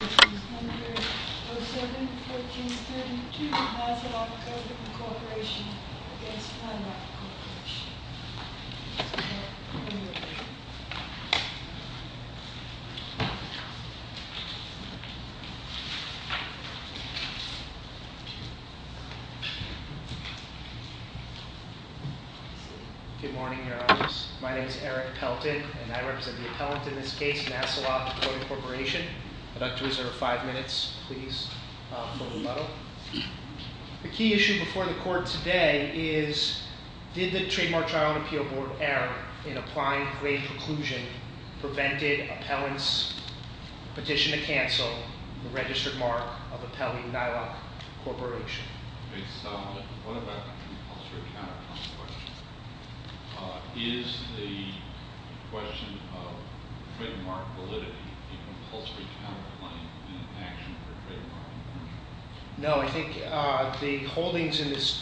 07-14-32 Nasalok Coating Corporation v. Nylok Corporation Good morning, Your Honors. My name is Eric Pelton, and I represent the appellant in this case, Nasalok Coating Corporation. I'd like to reserve five minutes, please, for rebuttal. The key issue before the court today is, did the Trademark Trial and Appeal Board error in applying grade preclusion prevented appellant's petition to cancel the registered mark of appellee Nylok Corporation? What about the compulsory counterclaim? Is the question of trademark validity a compulsory counterclaim in action for trademark validity? Well, are you suggesting that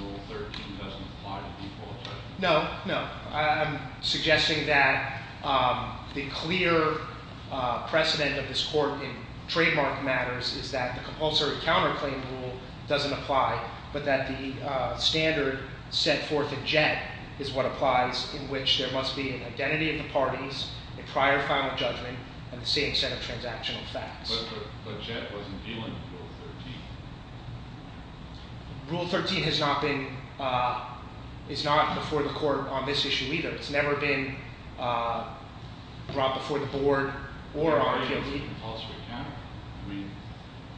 Rule 13 doesn't apply to default judgment? But Jet wasn't dealing with Rule 13. Rule 13 has not been, is not before the court on this issue either. It's never been brought before the board or on appeal either. I mean,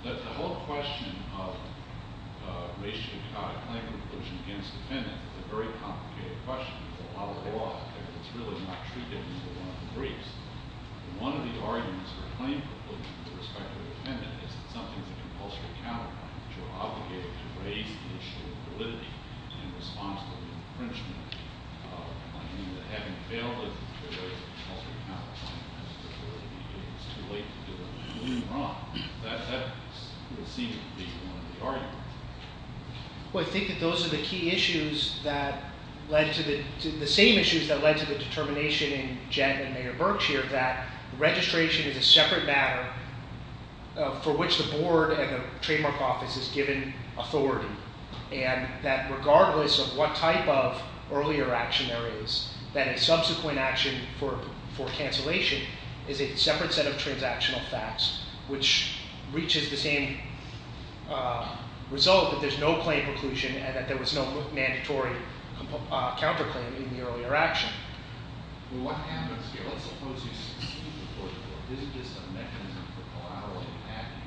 the whole question of racial claim preclusion against defendant is a very complicated question. There's a lot of law out there that's really not treated in the way one agrees. One of the arguments for claim preclusion with respect to the defendant is that something is a compulsory counterclaim, which you're obligated to raise the issue of validity in response to the infringement of claiming that having failed to raise the compulsory counterclaim has to really be too late to do anything wrong. That will seem to be one of the arguments. Well, I think that those are the key issues that led to the, the same issues that led to the determination in Jet and Mayor Berkshire that registration is a separate matter for which the board and the trademark office is given authority. And that regardless of what type of earlier action there is, that a subsequent action for cancellation is a separate set of transactional facts, which reaches the same result that there's no claim preclusion and that there was no mandatory counterclaim in the earlier action. Well, what happens here? Let's suppose you succeed before the court. Isn't this a mechanism for collaterally attacking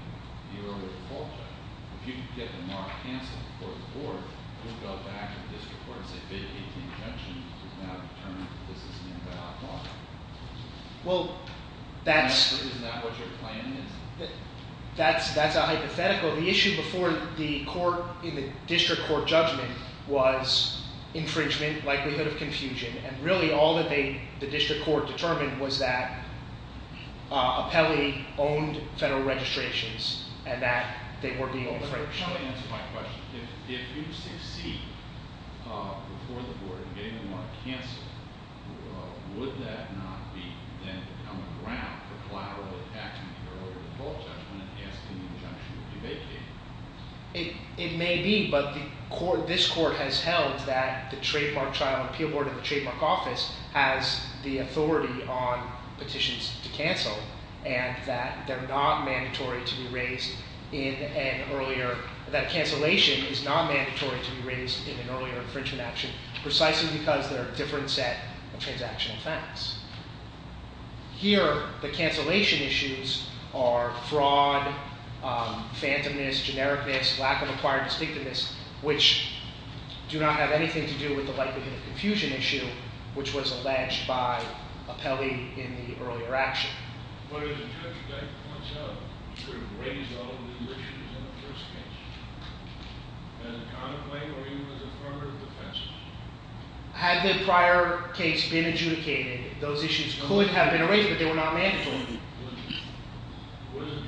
the earlier fault check? If you can get the mark canceled before the court, you'll go back to the district court and say, vacate the invention which is now determined that this is an invalid law. Well, that's... Isn't that what your plan is? That's, that's a hypothetical. The issue before the court in the district court judgment was infringement, likelihood of confusion, and really all that they, the district court determined was that Apelli owned federal registrations and that they were being infringed. Let me answer my question. If you succeed before the board in getting the mark canceled, would that not be then become a ground for collaterally attacking the earlier fault judgment and asking the injunction to be vacated? It, it may be, but the court, this court has held that the trademark trial and appeal board of the trademark office has the authority on petitions to cancel and that they're not mandatory to be raised in an earlier, that cancellation is not mandatory to be raised in an earlier infringement action precisely because they're a different set of transactional facts. Here, the cancellation issues are fraud, phantomness, genericness, lack of acquired distinctiveness, which do not have anything to do with the likelihood of confusion issue, which was alleged by Apelli in the earlier action. But if the judge points out, Had the prior case been adjudicated, those issues could have been raised, but they were not mandatory. It wasn't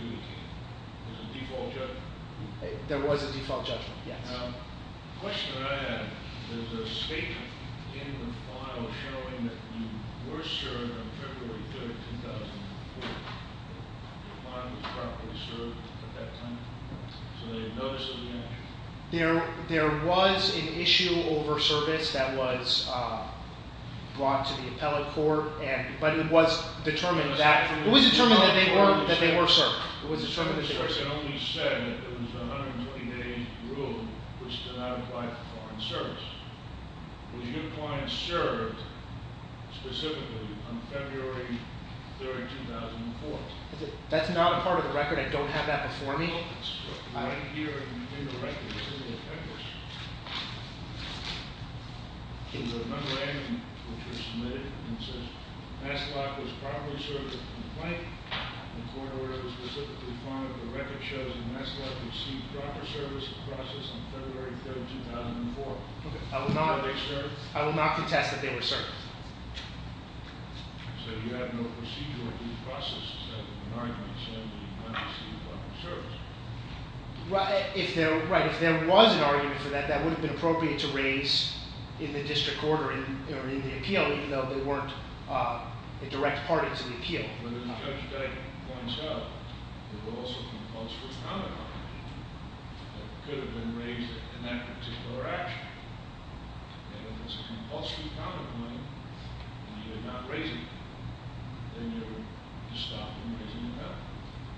adjudicated. It was a default judgment. There was a default judgment, yes. The question that I have is there's a statement in the file showing that you were served on February 3rd, 2004. The file was properly served at that time, so they noticed it was mandatory. There, there was an issue over service that was brought to the appellate court and, but it was determined that, it was determined that they were served. That's not a part of the record. I don't have that before me. I will not, I will not contest that they were served. Right, if there, right, if there was an argument for that, that would have been appropriate to raise in the district court or in the appeal, even though they weren't a direct part of the appeal.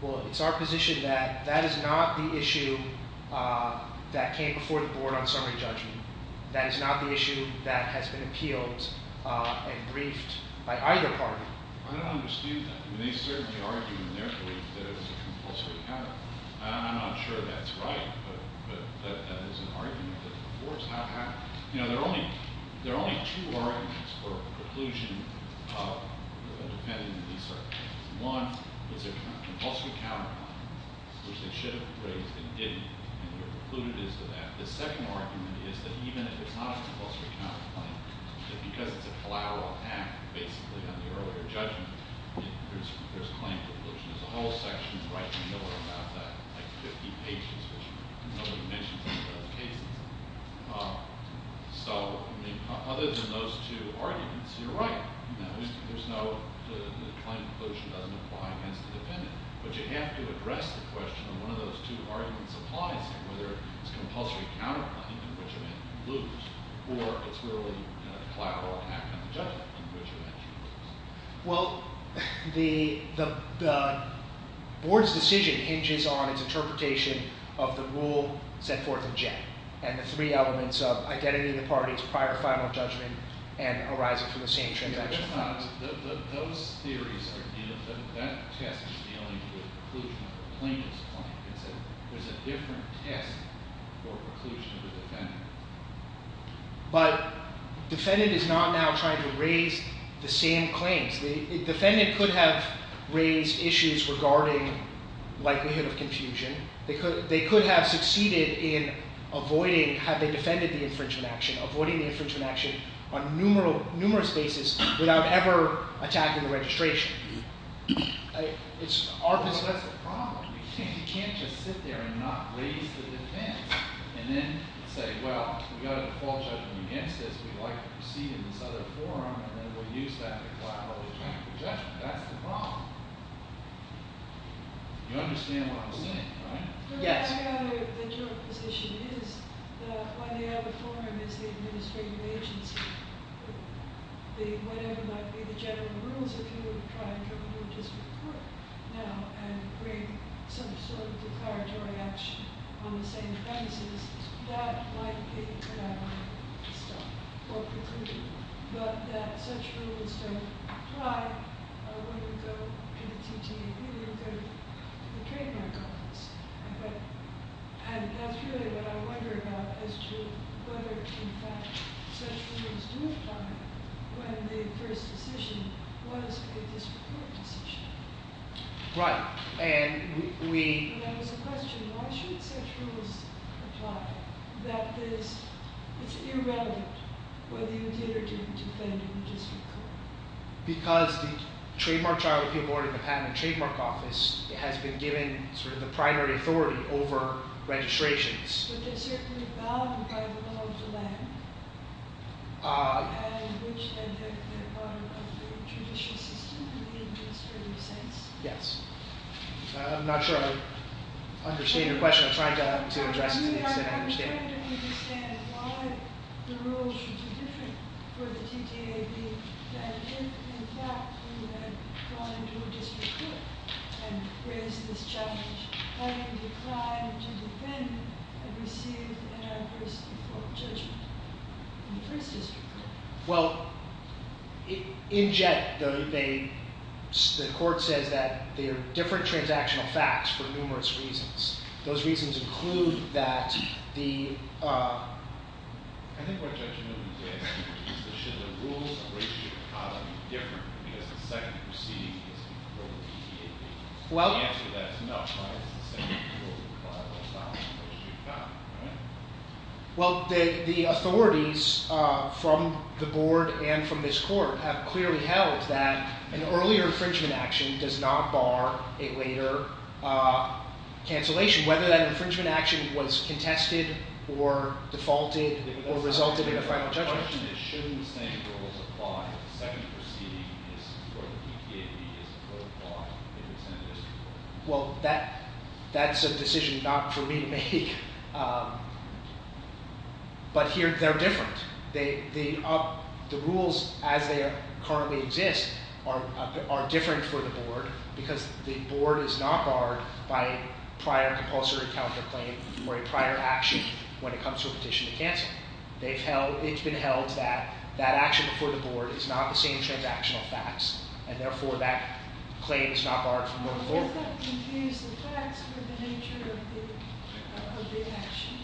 Well, it's our position that that is not the issue that came before the board on summary judgment. That is not the issue that has been appealed and briefed by either party. I don't understand that. I mean, they certainly argue in their belief that it was a compulsory counter. I'm not sure that's right, but that is an argument that the board's not having. You know, there are only, there are only two arguments for a preclusion depending on these circumstances. One, it's a compulsory counter on which they should have raised and didn't, and they're concluded as to that. The second argument is that even if it's not a compulsory counterclaim, that because it's a collateral act, basically, on the earlier judgment, there's, there's a claim for collusion. There's a whole section right in the middle about that, like 50 pages, which nobody mentions in those cases. So, I mean, other than those two arguments, you're right. There's no, the claim for collusion doesn't apply against the defendant. But you have to address the question of one of those two arguments applies to whether it's compulsory counterclaim in which event you lose, or it's really a collateral act on the judgment in which event you lose. Well, the, the, the board's decision hinges on its interpretation of the rule set forth in Jack, and the three elements of identity of the parties, prior or final judgment, and arising from the same transaction. Those theories are, you know, that test is dealing with collusion of the plaintiff's claim. It's a, there's a different test for collusion of the defendant. But defendant is not now trying to raise the same claims. The defendant could have raised issues regarding likelihood of confusion. They could, they could have succeeded in avoiding, had they defended the infringement action, avoiding the infringement action on numeral, numerous basis without ever attacking the registration. It's our position. But that's the problem. You can't, you can't just sit there and not raise the defense, and then say, well, we got a default judgment against this. We'd like to proceed in this other forum, and then we'll use that to collaterally track the judgment. That's the problem. You understand what I'm saying, right? Yes. I gather that your position is that when the other forum is the administrative agency, the, whatever might be the general rules, if you were to try to come to a district court now and bring some sort of declaratory action on the same premises, that might be collateral to stop or preclude, but that such rules don't apply when you go to the TTA. And that's really what I wonder about as to whether, in fact, such rules do apply when the first decision was a district court decision. Right. And we. And that was a question, why should such rules apply? That is, it's irrelevant whether you did or didn't defend a district court. Because the Trademark Trial Appeal Board and the Patent and Trademark Office has been given sort of the primary authority over registrations. But they're certainly bound by the law of the land, and which then have the power of the judicial system in the administrative sense. Yes. I'm not sure I understand your question. I'm trying to understand why the rules should be different for the TTAB than if, in fact, you had gone into a district court and raised this challenge, having declined to defend and received an adverse court judgment in the first district court. Well, in JET, the court says that there are different transactional facts for numerous reasons. Those reasons include that the. I think what Judge Newman is asking is, should the rules appraised to the economy be different because the second proceeding is for the TTAB? Well. The answer to that is no, right? It's the same rules apply all the time, appraised to the economy, right? Well, the authorities from the board and from this court have clearly held that an earlier infringement action does not bar a later cancellation, whether that infringement action was contested or defaulted or resulted in a final judgment. The question is, shouldn't the same rules apply if the second proceeding is for the TTAB? Well, that's a decision not for me to make. But here, they're different. The rules as they currently exist are different for the board because the board is not barred by prior compulsory counterclaim or a prior action when it comes to a petition to cancel. It's been held that that action before the board is not the same transactional facts, and therefore that claim is not barred from going forward. Well, does that confuse the facts with the nature of the action?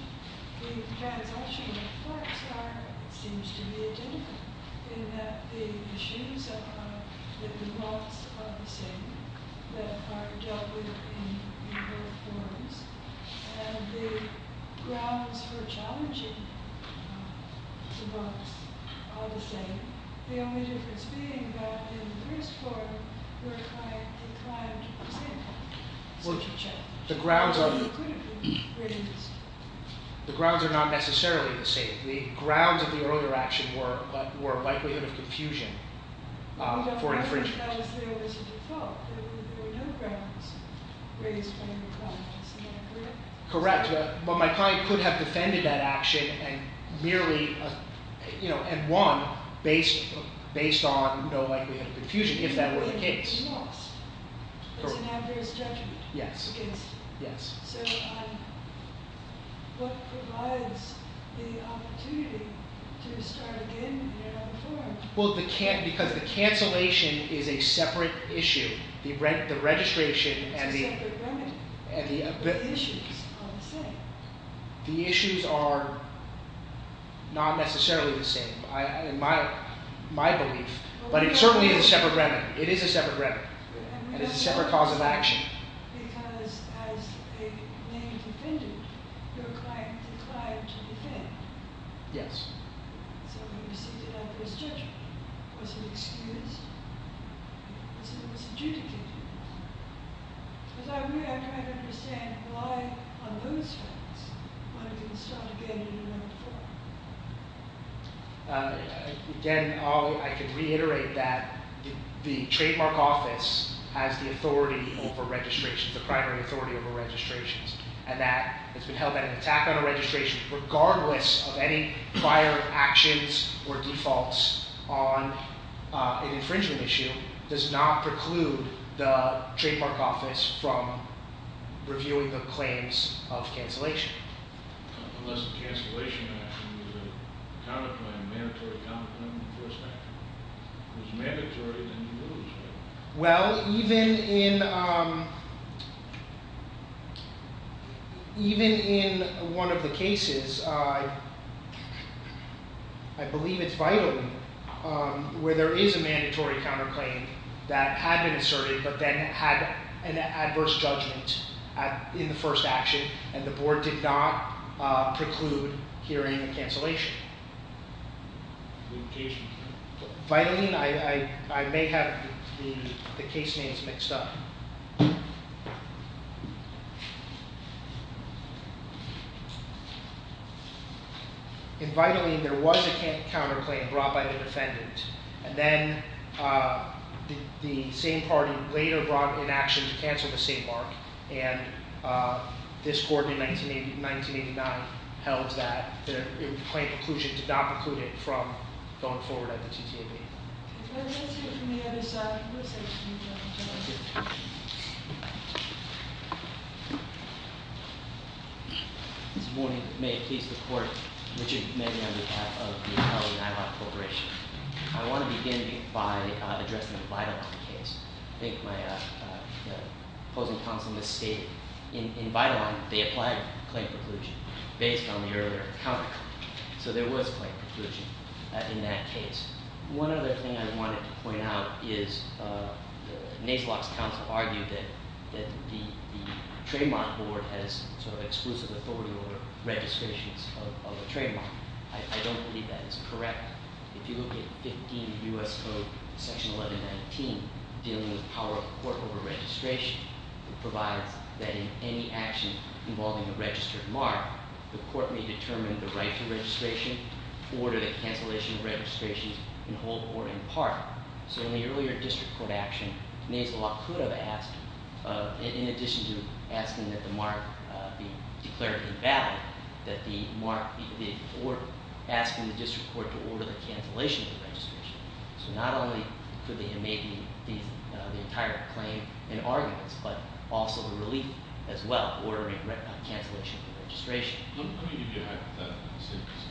The transactional facts are, it seems to me, identical, in that the issues are that the rules are the same, that are dealt with in both forms, and the grounds for challenging the rules are the same. The only difference being that in the first forum, we declined to present such a check. The grounds are not necessarily the same. The grounds of the earlier action were likelihood of confusion for infringement. I think that was there as a default. There were no grounds raised by the client. Correct. But my client could have defended that action and won based on no likelihood of confusion if that were the case. It's an adverse judgment. Yes. So what provides the opportunity to start again here on the forum? Well, because the cancellation is a separate issue. It's a separate remedy. But the issues are the same. The issues are not necessarily the same, in my belief. But it certainly is a separate remedy. It is a separate remedy. And it's a separate cause of action. Because as a named defendant, your client declined to defend. Yes. So we received an adverse judgment. Was it excused? Was it misadjudicated? As I read, I'm trying to understand why on those terms, one can start again in the first forum. Again, I could reiterate that the trademark office has the authority over registrations, the primary authority over registrations. And that it's been held that an attack on a registration, regardless of any prior actions or defaults on an infringement issue, does not preclude the trademark office from reviewing the claims of cancellation. Unless the cancellation action is a counterclaim, a mandatory counterclaim in the first action. If it's mandatory, then you lose, right? Well, even in one of the cases, I believe it's Vitally, where there is a mandatory counterclaim that had been asserted, but then had an adverse judgment in the first action, and the board did not preclude hearing the cancellation. In Vitally, I may have the case names mixed up. In Vitally, there was a counterclaim brought by the defendant. And then the same party later brought in action to cancel the same mark. And this court in 1989 held that the claim preclusion did not preclude it from going forward at the TTAB. Let's hear it from the other side. This morning, may it please the court. Richard Manny on behalf of the Vitally-Nylock Corporation. I want to begin by addressing the Vitally case. I think my opposing counsel misstated. In Vitally, they applied claim preclusion based on the earlier counterclaim. So there was claim preclusion in that case. One other thing I wanted to point out is Nace-Lock's counsel argued that the trademark board has sort of exclusive authority over registrations of the trademark. I don't believe that is correct. If you look at 15 U.S. Code section 1119 dealing with power of court over registration, it provides that in any action involving a registered mark, the court may determine the right to registration, order the cancellation of registrations, and hold the order in part. So in the earlier district court action, Nace-Lock could have asked, in addition to asking that the mark be declared invalid, that the mark be ordered, asking the district court to order the cancellation of the registration. So not only could they have made the entire claim in arguments, but also a relief as well, ordering a cancellation of the registration. Let me give you a hypothetical instance.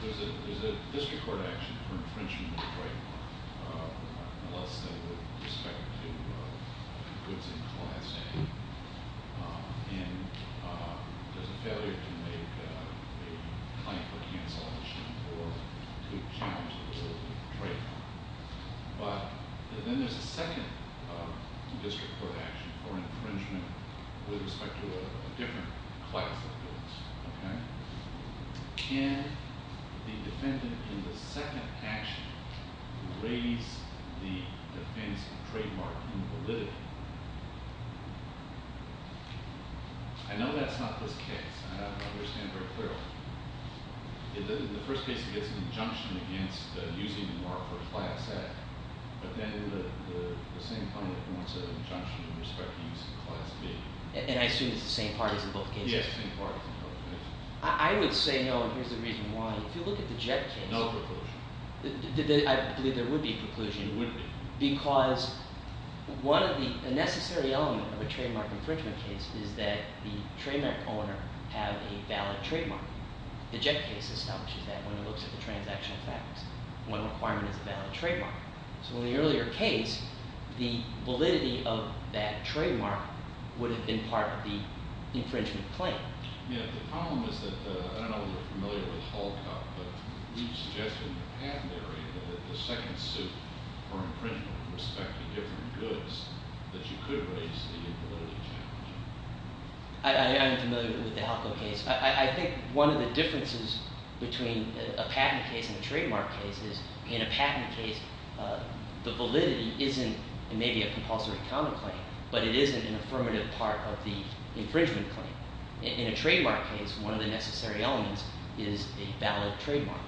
There's a district court action for infringement of the trademark. Let's say with respect to goods in class A. And there's a failure to make a claim for cancellation or to challenge the trademark. But then there's a second district court action for infringement with respect to a different class of goods. Can the defendant in the second action raise the defense trademark invalidity? I know that's not this case, and I don't understand it very clearly. In the first case, it gets an injunction against using the mark for class A. But then the defendant wants an injunction in respect to using class B. And I assume it's the same parties in both cases? Yes, the same parties in both cases. I would say no, and here's the reason why. If you look at the Jett case- No preclusion. I believe there would be a preclusion. There would be. Because one of the necessary elements of a trademark infringement case is that the trademark owner has a valid trademark. The Jett case establishes that when it looks at the transactional factors. One requirement is a valid trademark. So in the earlier case, the validity of that trademark would have been part of the infringement claim. Yeah, the problem is that I don't know if you're familiar with Halkop, but we've suggested in the patent area that the second suit for infringement in respect to different goods, that you could raise the invalidity challenge. I am familiar with the Halkop case. I think one of the differences between a patent case and a trademark case is in a patent case, the validity isn't maybe a compulsory counterclaim, but it isn't an affirmative part of the infringement claim. In a trademark case, one of the necessary elements is a valid trademark.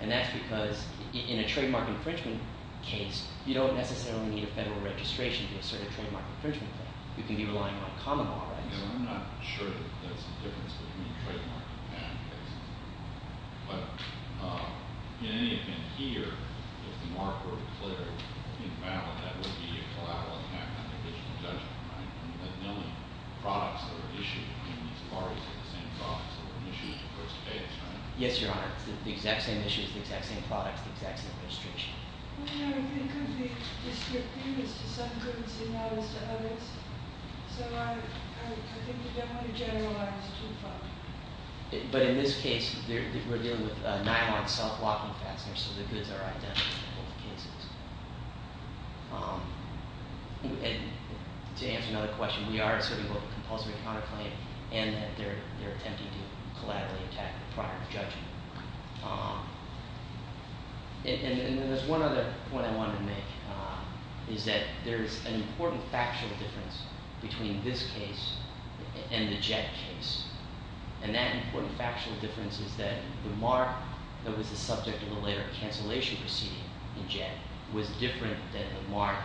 And that's because in a trademark infringement case, you don't necessarily need a federal registration to assert a trademark infringement claim. You can be relying on common law rights. And I'm not sure that that's the difference between a trademark and a patent case. But in any event, here, if the mark were declared invalid, that would be a collateral attack on the division of judgment, right? Because the only products that are issued between these parties are the same products that were issued in the first case, right? Yes, Your Honor. It's the exact same issues, the exact same products, the exact same registration. Well, you know, it could be misdemeanors to some goods and not as to others. So I think you don't want to generalize too far. But in this case, we're dealing with a nylon self-locking fastener, so the goods are identical in both cases. And to answer another question, we are asserting both a compulsory counterclaim and that they're attempting to collaterally attack the product of judgment. And there's one other point I wanted to make, is that there's an important factual difference between this case and the Jett case. And that important factual difference is that the mark that was the subject of the later cancellation proceeding in Jett was different than the mark,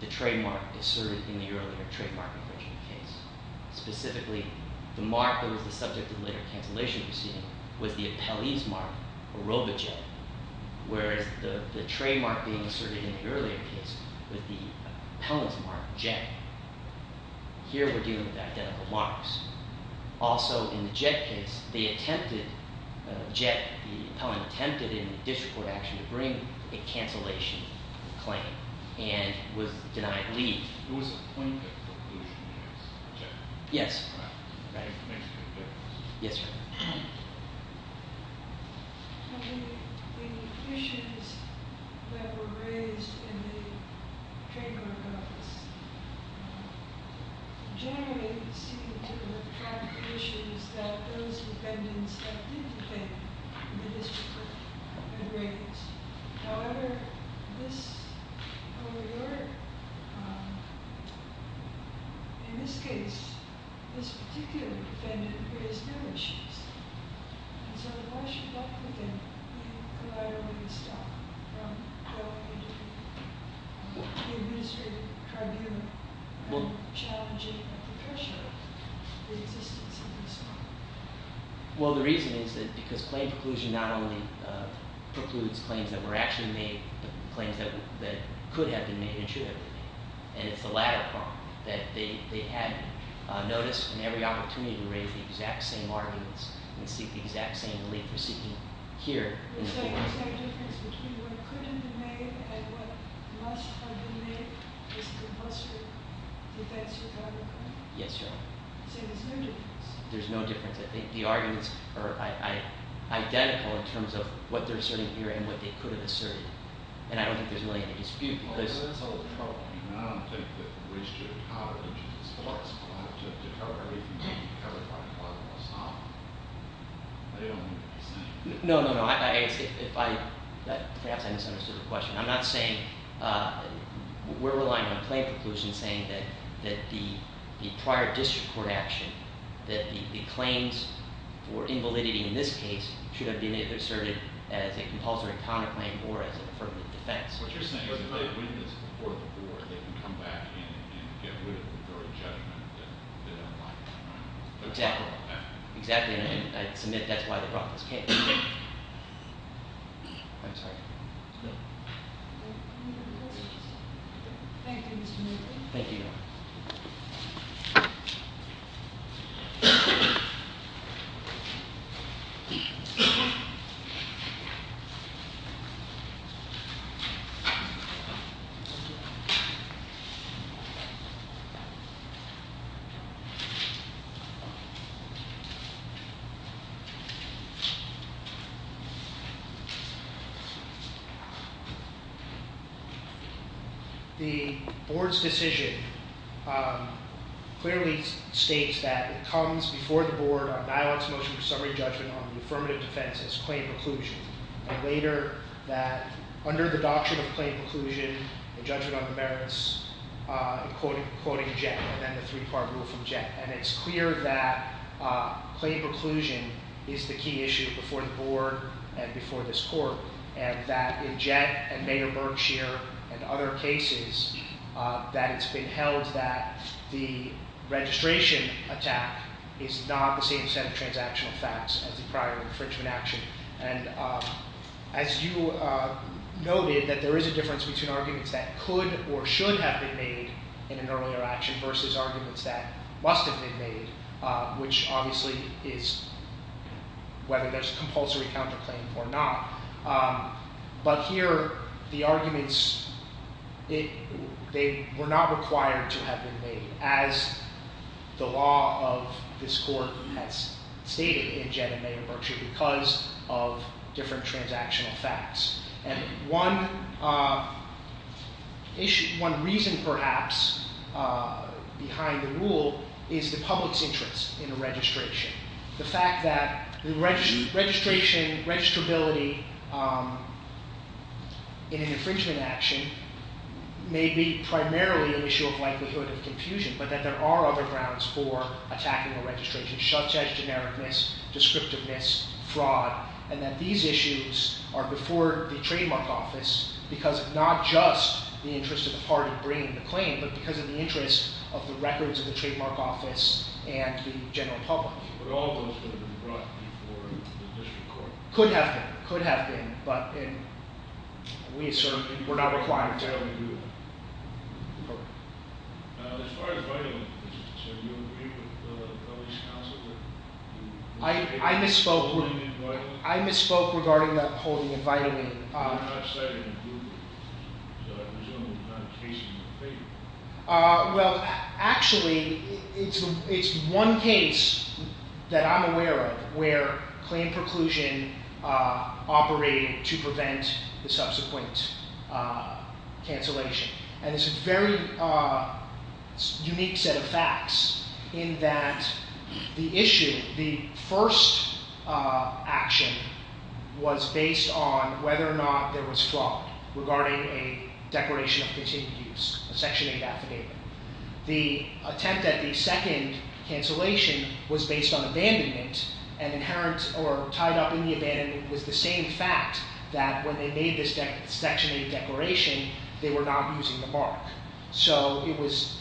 the trademark, asserted in the earlier trademark infringement case. Specifically, the mark that was the subject of the later cancellation proceeding was the appellee's mark, aerobic Jett, whereas the trademark being asserted in the earlier case was the appellant's mark, Jett. Here, we're dealing with identical marks. Also, in the Jett case, they attempted – Jett, the appellant attempted in the district court action to bring a cancellation claim and was denied leave. There was a point that the appellation was Jett. Yes. That information is there. Yes, sir. The issues that were raised in the trademark office generally seem to attract the issues that those defendants that did defend in the district court had raised. However, this – however, your – in this case, this particular defendant raised no issues. And so why should that defendant be allowed only to stop from going into the administrative tribunal and challenging the pressure of the existence of this mark? Well, the reason is that because claim preclusion not only precludes claims that were actually made but claims that could have been made and should have been made. And it's the latter part that they hadn't noticed. And every opportunity to raise the exact same arguments and seek the exact same relief we're seeking here. So there's no difference between what couldn't have been made and what must have been made? This is a closer defense to the argument? Yes, Your Honor. So there's no difference? There's no difference. I think the arguments are identical in terms of what they're asserting here and what they could have asserted. And I don't think there's really any dispute because – Well, that's the whole problem. I don't think that the restricted power of the district court is allowed to cover everything that can be covered by the court of law. They don't need to be saying anything. No, no, no. I guess if I – perhaps I misunderstood the question. I'm not saying – we're relying on claim preclusion saying that the prior district court action, that the claims for invalidity in this case should have been asserted as a compulsory counterclaim or as an affirmative defense. What you're saying is if they witness it before the court, they can come back and get rid of it and throw a judgment that they don't like. Exactly. Exactly. And I submit that's why they brought this case. I'm sorry. No. Any other questions? Thank you, Mr. Moody. Thank you, Your Honor. Thank you, Your Honor. The board's decision clearly states that it comes before the board on Iowa's motion for summary judgment on the affirmative defense as claim preclusion. And later that under the doctrine of claim preclusion, the judgment on the merits, quoting Jett, and then the three-part rule from Jett. And it's clear that claim preclusion is the key issue before the board and before this court. And that in Jett and Mayor Berkshire and other cases, that it's been held that the registration attack is not the same set of transactional facts as the prior infringement action. And as you noted, that there is a difference between arguments that could or should have been made in an earlier action versus arguments that must have been made, which obviously is whether there's compulsory counterclaim or not. But here, the arguments, they were not required to have been made as the law of this court has stated in Jett and Mayor Berkshire because of different transactional facts. And one reason perhaps behind the rule is the public's interest in a registration. The fact that the registration, registrability in an infringement action may be primarily an issue of likelihood of confusion. But that there are other grounds for attacking a registration, such as genericness, descriptiveness, fraud. And that these issues are before the trademark office because of not just the interest of the party bringing the claim, but because of the interest of the records of the trademark office and the general public. But all of those could have been brought before the district court. Could have been, could have been, but we're not required to. As far as writing, sir, do you agree with the police counsel that- I misspoke. I misspoke regarding the holding and inviting. I'm not saying that you would. So I presume it's not a case in your favor. Well, actually, it's one case that I'm aware of where claim preclusion operated to prevent the subsequent cancellation. And it's a very unique set of facts in that the issue, the first action was based on whether or not there was fraud regarding a declaration of continued use, a section 8 affidavit. The attempt at the second cancellation was based on abandonment and inherent or tied up in the abandonment was the same fact that when they made this section 8 declaration, they were not using the mark. So it was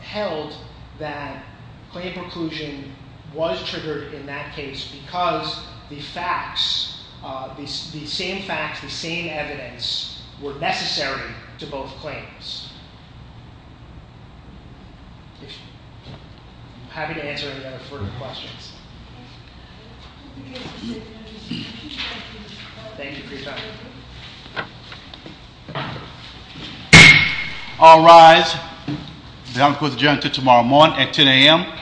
held that claim preclusion was triggered in that case because the facts, the same facts, the same evidence were necessary to both claims. I'm happy to answer any further questions. Thank you for your time. All rise. The hearing is adjourned until tomorrow morning at 10 a.m.